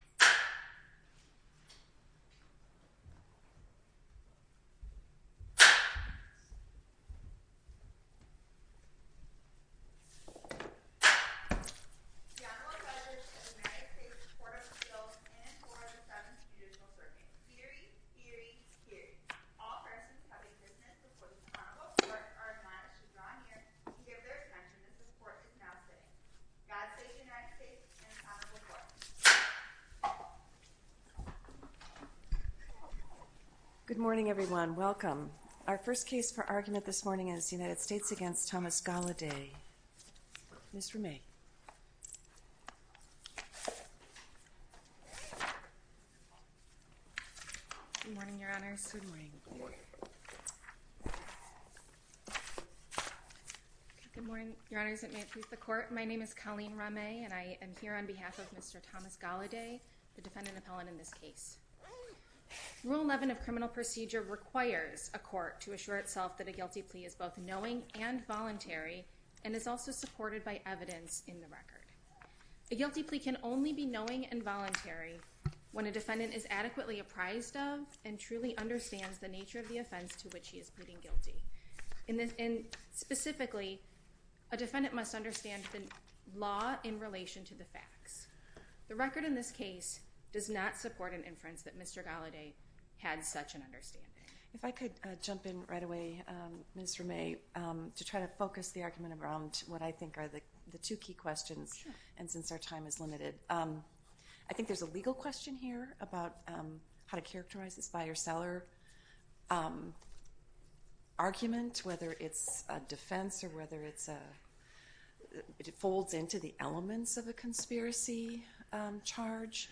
The Honorable Judge of the United States Court of Appeals in and toward the Seventh Judicial Circuit. Hear ye! Hear ye! Hear ye! All persons having witness before the Honorable Court are admonished to draw near to give their attention as the Court is now sitting. God save the United States and the Honorable Court. Good morning everyone. Welcome. Our first case for argument this morning is the United States v. Thomas Goliday. Ms. Rameh. Good morning, Your Honors. Good morning. Good morning. Good morning, Your Honors and may it please the Court. My name is Colleen Rameh and I am here on behalf of Mr. Thomas Goliday, the defendant appellant in this case. Rule 11 of criminal procedure requires a court to assure itself that a guilty plea is both knowing and voluntary and is also supported by evidence in the record. A guilty plea can only be knowing and voluntary when a defendant is adequately apprised of and truly understands the nature of the offense to which he is pleading guilty. Specifically, a defendant must understand the law in relation to the facts. The record in this case does not support an inference that Mr. Goliday had such an understanding. If I could jump in right away, Ms. Rameh, to try to focus the argument around what I think are the two key questions and since our time is limited. I think there's a legal question here about how to characterize this buyer-seller argument, whether it's a defense or whether it folds into the elements of a conspiracy charge.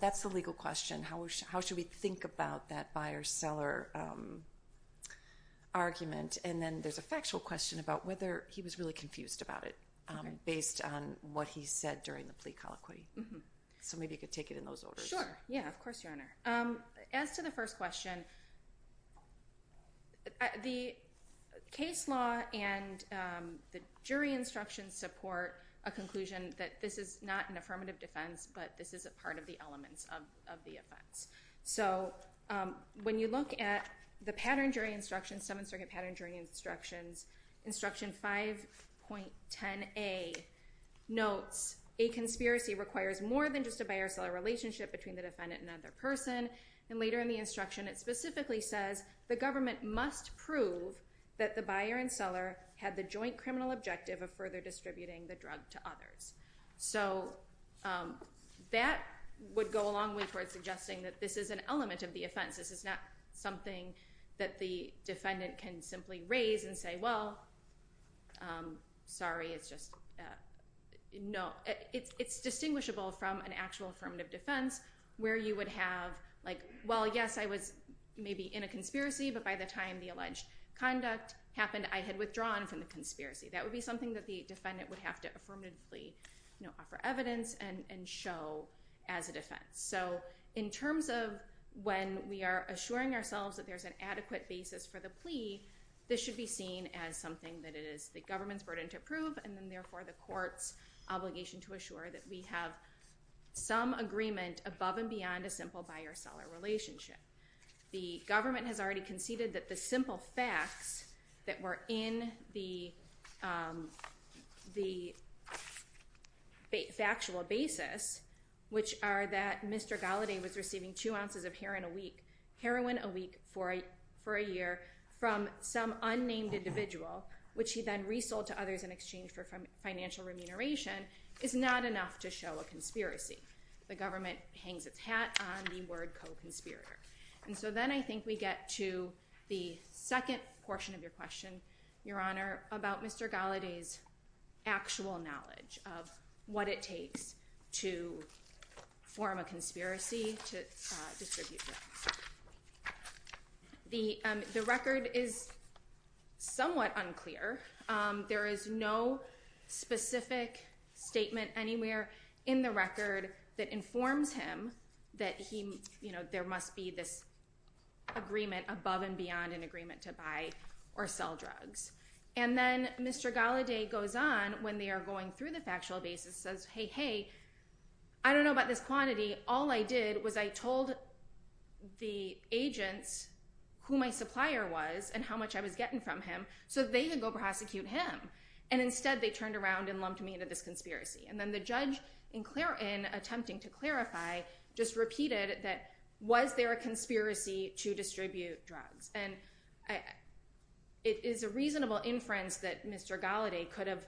That's the legal question. How should we think about that buyer-seller argument? And then there's a factual question about whether he was really confused about it based on what he said during the plea colloquy. So maybe you could take it in those orders. Sure. Yeah, of course, Your Honor. As to the first question, the case law and the jury instructions support a conclusion that this is not an affirmative defense, but this is a part of the elements of the offense. So when you look at the pattern jury instructions, 7th Circuit Pattern Jury Instructions, Instruction 5.10a notes a conspiracy requires more than just a buyer-seller relationship between the defendant and other person. And later in the instruction, it specifically says the government must prove that the buyer and seller had the joint criminal objective of further distributing the drug to others. So that would go a long way towards suggesting that this is an element of the offense. This is not something that the defendant can simply raise and say, well, sorry, it's just no. It's distinguishable from an actual affirmative defense where you would have like, well, yes, I was maybe in a conspiracy, but by the time the alleged conduct happened, I had withdrawn from the conspiracy. That would be something that the defendant would have to affirmatively offer evidence and show as a defense. So in terms of when we are assuring ourselves that there's an adequate basis for the plea, this should be seen as something that it is the government's burden to prove, and then therefore the court's obligation to assure that we have some agreement above and beyond a simple buyer-seller relationship. The government has already conceded that the simple facts that were in the factual basis, which are that Mr. Galladay was receiving two ounces of heroin a week for a year from some unnamed individual, which he then resold to others in exchange for financial remuneration, is not enough to show a conspiracy. The government hangs its hat on the word co-conspirator. And so then I think we get to the second portion of your question, Your Honor, about Mr. Galladay's actual knowledge of what it takes to form a conspiracy to distribute drugs. The record is somewhat unclear. There is no specific statement anywhere in the record that informs him that there must be this agreement above and beyond an agreement to buy or sell drugs. And then Mr. Galladay goes on, when they are going through the factual basis, says, I don't know about this quantity. All I did was I told the agents who my supplier was and how much I was getting from him so they could go prosecute him. And instead they turned around and lumped me into this conspiracy. And then the judge, in attempting to clarify, just repeated that, was there a conspiracy to distribute drugs? And it is a reasonable inference that Mr. Galladay could have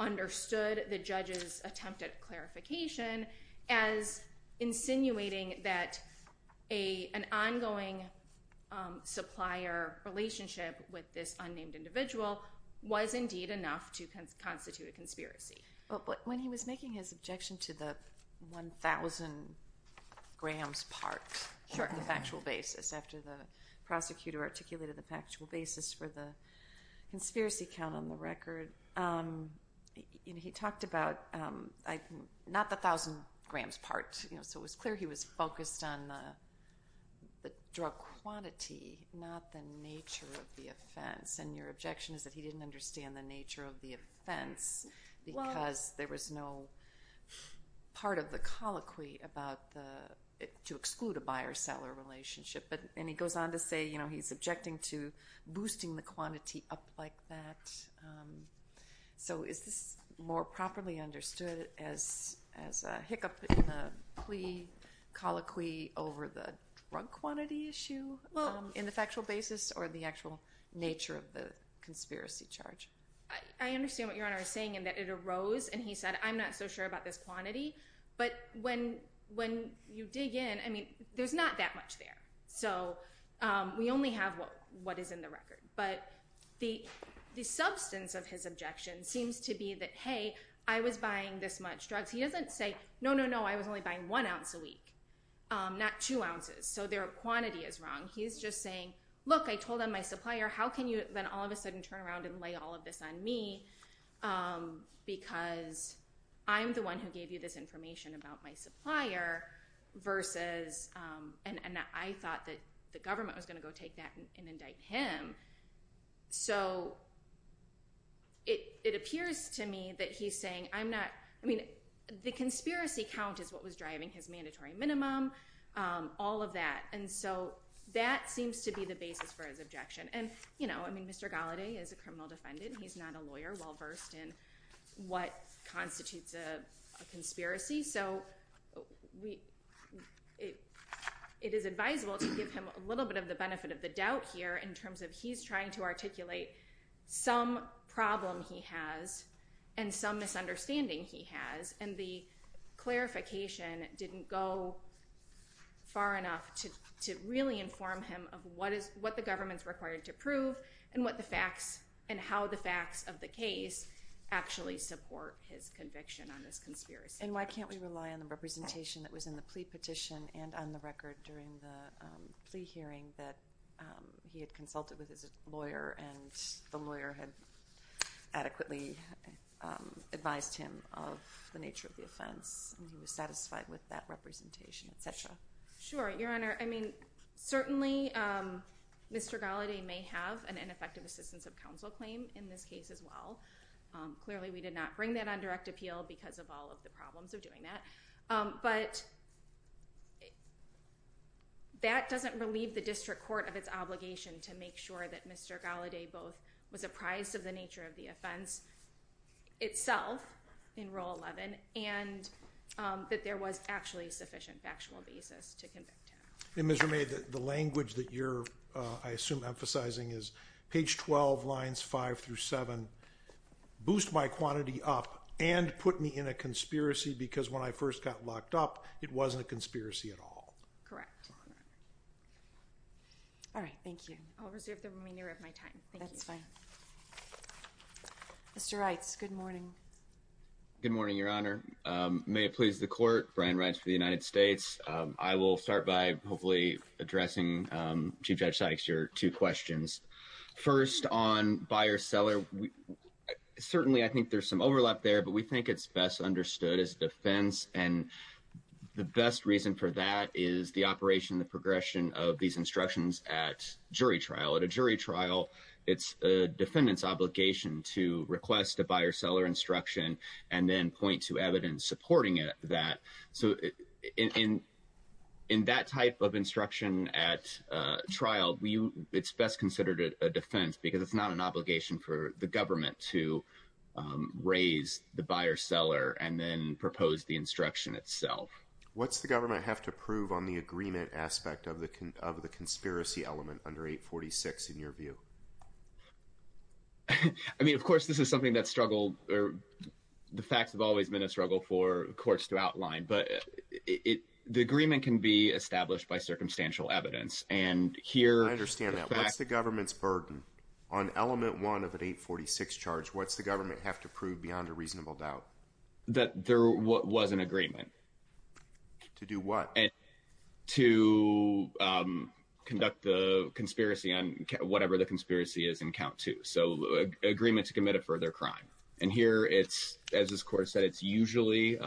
understood the judge's attempted clarification as insinuating that an ongoing supplier relationship with this unnamed individual was indeed enough to constitute a conspiracy. But when he was making his objection to the 1,000 grams part of the factual basis, after the prosecutor articulated the factual basis for the conspiracy count on the record, he talked about not the 1,000 grams part. So it was clear he was focused on the drug quantity, not the nature of the offense. And your objection is that he didn't understand the nature of the offense because there was no part of the colloquy to exclude a buy or sell relationship. And he goes on to say he's objecting to boosting the quantity up like that. So is this more properly understood as a hiccup in the plea colloquy over the drug quantity issue in the factual basis or the actual nature of the conspiracy charge? I understand what Your Honor is saying in that it arose and he said I'm not so sure about this quantity. But when you dig in, I mean, there's not that much there. So we only have what is in the record. But the substance of his objection seems to be that, hey, I was buying this much drugs. He doesn't say, no, no, no, I was only buying one ounce a week, not two ounces. So their quantity is wrong. He's just saying, look, I told on my supplier, how can you then all of a sudden turn around and lay all of this on me because I'm the one who gave you this information about my supplier versus and I thought that the government was going to go take that and indict him. So it appears to me that he's saying I'm not, I mean, the conspiracy count is what was driving his mandatory minimum, all of that. And so that seems to be the basis for his objection. And, you know, I mean, Mr. Galladay is a criminal defendant. He's not a lawyer well versed in what constitutes a conspiracy. So it is advisable to give him a little bit of the benefit of the doubt here in terms of he's trying to articulate some problem he has and some misunderstanding he has. And the clarification didn't go far enough to really inform him of what the government's required to prove and what the facts and how the facts of the case actually support his conviction on this conspiracy. And why can't we rely on the representation that was in the plea petition and on the record during the plea hearing that he had consulted with his lawyer and the lawyer had adequately advised him of the nature of the offense and he was satisfied with that representation, et cetera. Sure, Your Honor. I mean, certainly Mr. Galladay may have an ineffective assistance of counsel claim in this case as well. Clearly we did not bring that on direct appeal because of all of the problems of doing that. But that doesn't relieve the district court of its obligation to make sure that Mr. Galladay both was apprised of the nature of the offense itself in Rule 11 and that there was actually sufficient factual basis to convict him. And Mr. May, the language that you're, I assume, emphasizing is page 12, lines 5 through 7. Boost my quantity up and put me in a conspiracy because when I first got locked up, it wasn't a conspiracy at all. Correct. All right, thank you. I'll reserve the remainder of my time. That's fine. Mr. Reitz, good morning. Good morning, Your Honor. May it please the court, Brian Reitz for the United States. I will start by hopefully addressing Chief Judge Sidek's two questions. First, on buyer-seller, certainly I think there's some overlap there, but we think it's best understood as defense. And the best reason for that is the operation, the progression of these instructions at jury trial. At a jury trial, it's a defendant's obligation to request a buyer-seller instruction and then point to evidence supporting that. So in that type of instruction at trial, it's best considered a defense because it's not an obligation for the government to raise the buyer-seller and then propose the instruction itself. What's the government have to prove on the agreement aspect of the conspiracy element under 846 in your view? I mean, of course, this is something that's struggled or the facts have always been a struggle for courts to outline. But the agreement can be established by circumstantial evidence. And here… I understand that. What's the government's burden on element one of an 846 charge? What's the government have to prove beyond a reasonable doubt? That there was an agreement. To do what? To conduct the conspiracy on whatever the conspiracy is in count two. So agreement to commit a further crime. And here it's, as this court said, it's usually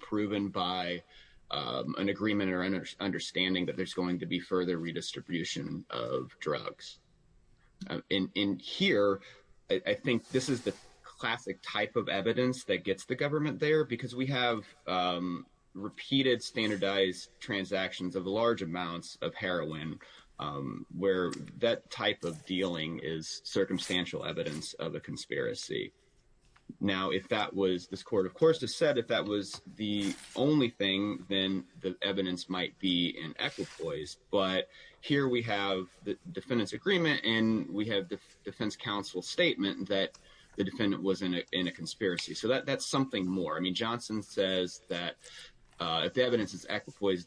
proven by an agreement or understanding that there's going to be further redistribution of drugs. In here, I think this is the classic type of evidence that gets the government there because we have repeated standardized transactions of large amounts of heroin where that type of dealing is circumstantial evidence of a conspiracy. Now, if that was… This court, of course, has said if that was the only thing, then the evidence might be in equipoise. But here we have the defendant's agreement and we have the defense counsel's statement that the defendant was in a conspiracy. So that's something more. I mean, Johnson says that if the evidence is equipoise,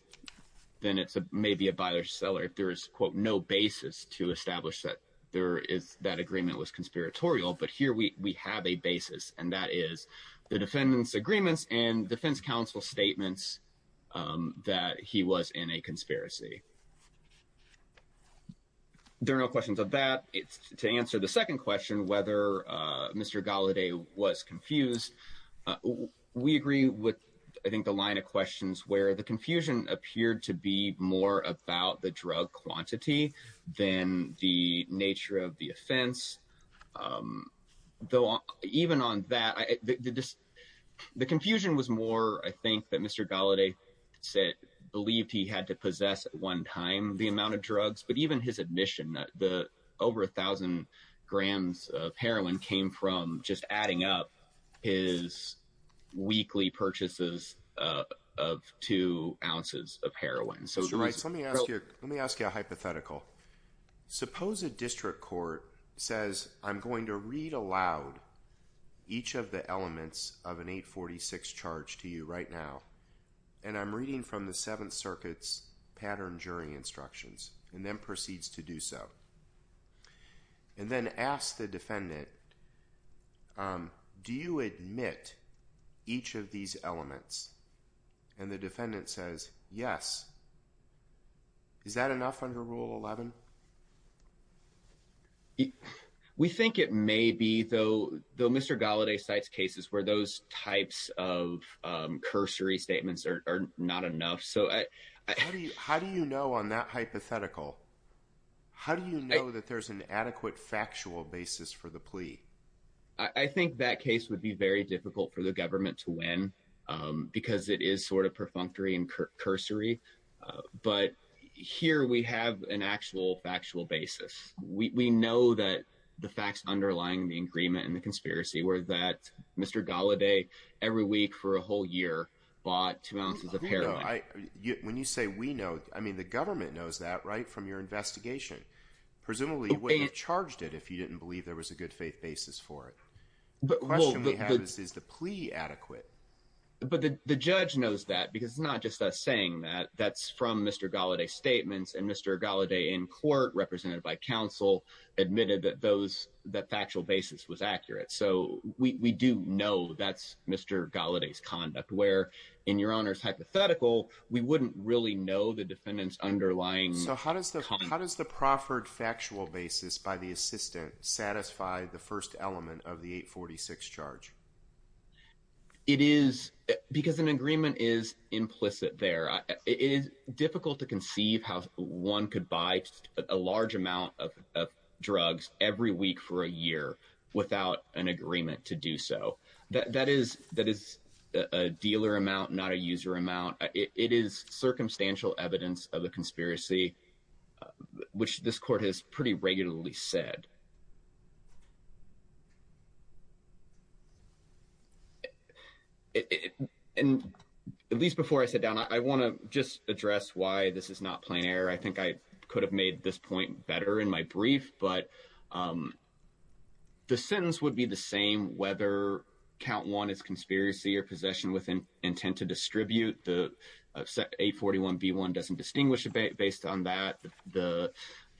then it's maybe a buyer-seller. There is, quote, no basis to establish that there is… that agreement was conspiratorial. But here we have a basis, and that is the defendant's agreements and defense counsel's statements that he was in a conspiracy. There are no questions of that. To answer the second question, whether Mr. Gallaudet was confused, we agree with, I think, the line of questions where the confusion appeared to be more about the drug quantity than the nature of the offense. Though even on that, the confusion was more, I think, that Mr. Gallaudet said… believed he had to possess at one time the amount of drugs. But even his admission that the over 1,000 grams of heroin came from just adding up his weekly purchases of two ounces of heroin. Let me ask you a hypothetical. Suppose a district court says, I'm going to read aloud each of the elements of an 846 charge to you right now, and I'm reading from the Seventh Circuit's pattern jury instructions, and then proceeds to do so. And then ask the defendant, do you admit each of these elements? And the defendant says, yes. Is that enough under Rule 11? We think it may be, though Mr. Gallaudet cites cases where those types of cursory statements are not enough. How do you know on that hypothetical? How do you know that there's an adequate factual basis for the plea? I think that case would be very difficult for the government to win because it is sort of perfunctory and cursory. But here we have an actual factual basis. We know that the facts underlying the agreement and the conspiracy were that Mr. Gallaudet, every week for a whole year, bought two ounces of heroin. When you say we know, I mean, the government knows that right from your investigation. Presumably you wouldn't have charged it if you didn't believe there was a good faith basis for it. The question we have is, is the plea adequate? But the judge knows that because it's not just us saying that. That's from Mr. Gallaudet's statements. And Mr. Gallaudet in court, represented by counsel, admitted that factual basis was accurate. So we do know that's Mr. Gallaudet's conduct, where in your honor's hypothetical, we wouldn't really know the defendant's underlying. So how does the how does the proffered factual basis by the assistant satisfy the first element of the 846 charge? It is because an agreement is implicit there. It is difficult to conceive how one could buy a large amount of drugs every week for a year without an agreement to do so. That is that is a dealer amount, not a user amount. It is circumstantial evidence of a conspiracy, which this court has pretty regularly said. And at least before I sit down, I want to just address why this is not plain error. I think I could have made this point better in my brief. But the sentence would be the same whether count one is conspiracy or possession with an intent to distribute the 841. B1 doesn't distinguish based on that. The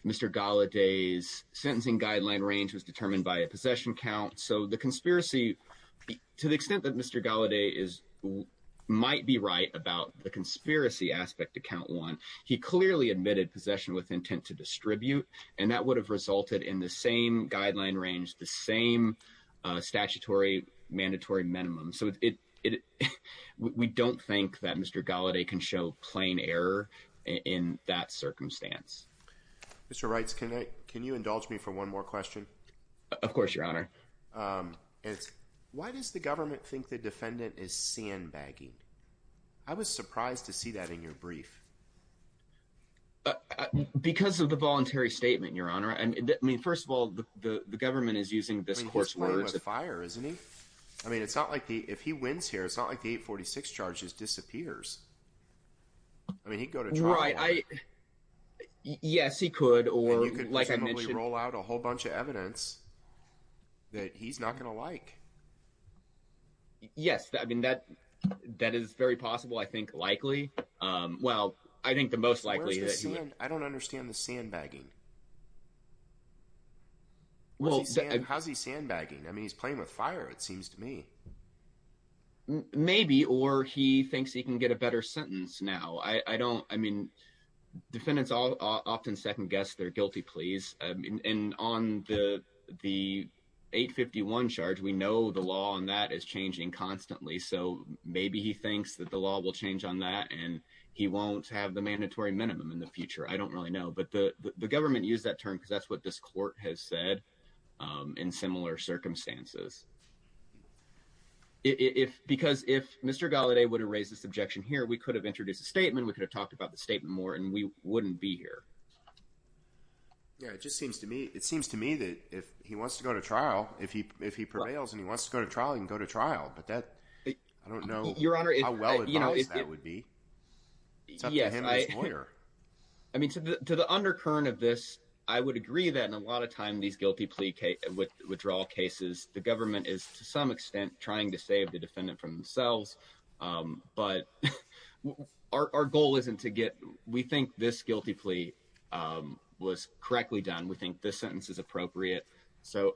Mr. Gallaudet's sentencing guideline range was determined by a possession count. So the conspiracy to the extent that Mr. Gallaudet is might be right about the conspiracy aspect to count one. He clearly admitted possession with intent to distribute. And that would have resulted in the same guideline range, the same statutory mandatory minimum. So we don't think that Mr. Gallaudet can show plain error in that circumstance. Mr. Wrights, can I can you indulge me for one more question? Of course, your honor. It's why does the government think the defendant is sandbagging? I was surprised to see that in your brief. Because of the voluntary statement, your honor. And I mean, first of all, the government is using this courseware as a fire, isn't he? I mean, it's not like if he wins here, it's not like the 846 charges disappears. I mean, he'd go to trial. Yes, he could. And you could presumably roll out a whole bunch of evidence that he's not going to like. Yes, I mean, that is very possible, I think likely. Well, I think the most likely that he… I don't understand the sandbagging. How's he sandbagging? I mean, he's playing with fire, it seems to me. Maybe or he thinks he can get a better sentence now. I mean, defendants often second guess their guilty pleas. And on the 851 charge, we know the law on that is changing constantly. So maybe he thinks that the law will change on that and he won't have the mandatory minimum in the future. I don't really know. But the government used that term because that's what this court has said in similar circumstances. Because if Mr. Gallaudet would have raised this objection here, we could have introduced a statement. We could have talked about the statement more, and we wouldn't be here. Yeah, it just seems to me that if he wants to go to trial, if he prevails and he wants to go to trial, he can go to trial. But I don't know how well-advised that would be. It's up to him and his lawyer. I mean, to the undercurrent of this, I would agree that in a lot of time these guilty plea withdrawal cases, the government is to some extent trying to save the defendant from themselves. But our goal isn't to get. We think this guilty plea was correctly done. We think this sentence is appropriate. So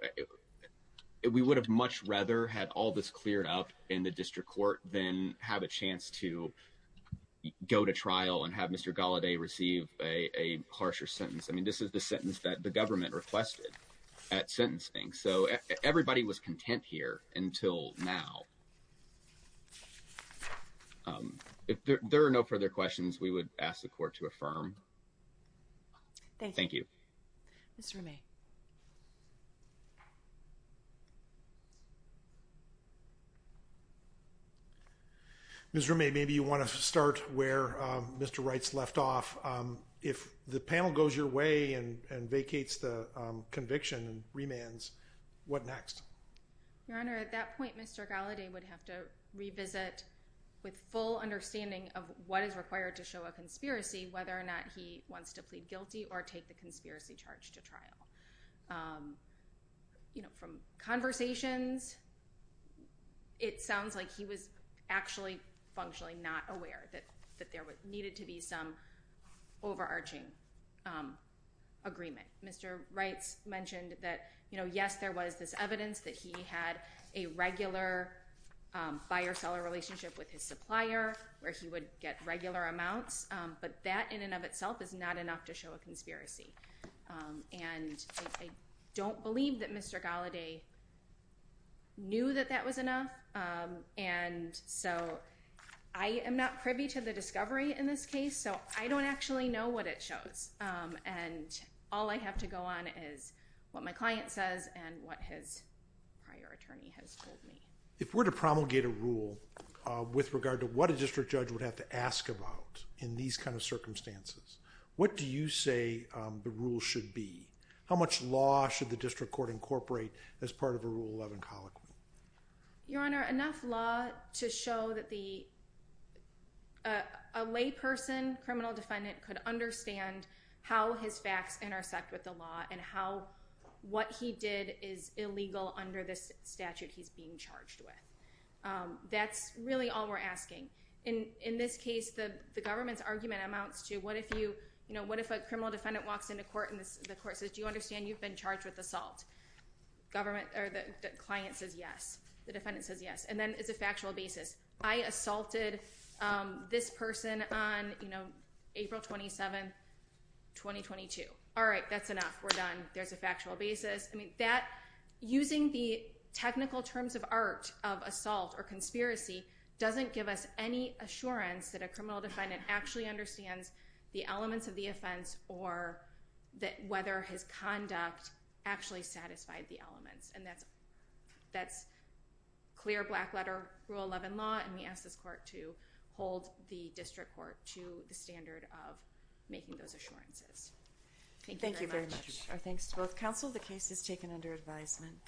we would have much rather had all this cleared up in the district court than have a chance to go to trial and have Mr. Gallaudet receive a harsher sentence. I mean, this is the sentence that the government requested at sentencing. So everybody was content here until now. If there are no further questions, we would ask the court to affirm. Thank you. Ms. Remy. Ms. Remy, maybe you want to start where Mr. Wright's left off. If the panel goes your way and vacates the conviction and remands, what next? Your Honor, at that point, Mr. Gallaudet would have to revisit with full understanding of what is required to show a conspiracy, whether or not he wants to plead guilty or take the conspiracy charge to trial. From conversations, it sounds like he was actually functionally not aware that there needed to be some overarching agreement. Mr. Wright mentioned that, yes, there was this evidence that he had a regular buyer-seller relationship with his supplier where he would get regular amounts, but that in and of itself is not enough to show a conspiracy. And I don't believe that Mr. Gallaudet knew that that was enough. And so I am not privy to the discovery in this case, so I don't actually know what it shows. And all I have to go on is what my client says and what his prior attorney has told me. If we're to promulgate a rule with regard to what a district judge would have to ask about in these kind of circumstances, what do you say the rule should be? How much law should the district court incorporate as part of a Rule 11 colloquy? Your Honor, enough law to show that a layperson, criminal defendant, could understand how his facts intersect with the law and how what he did is illegal under this statute he's being charged with. That's really all we're asking. In this case, the government's argument amounts to what if a criminal defendant walks into court and the court says, do you understand you've been charged with assault? The client says yes. The defendant says yes. And then it's a factual basis. I assaulted this person on April 27, 2022. All right, that's enough. We're done. There's a factual basis. I mean, using the technical terms of art of assault or conspiracy doesn't give us any assurance that a criminal defendant actually understands the elements of the offense or whether his conduct actually satisfied the elements. And that's clear black letter Rule 11 law. And we ask this court to hold the district court to the standard of making those assurances. Thank you very much. Thank you very much. Our thanks to both counsel. The case is taken under advisement.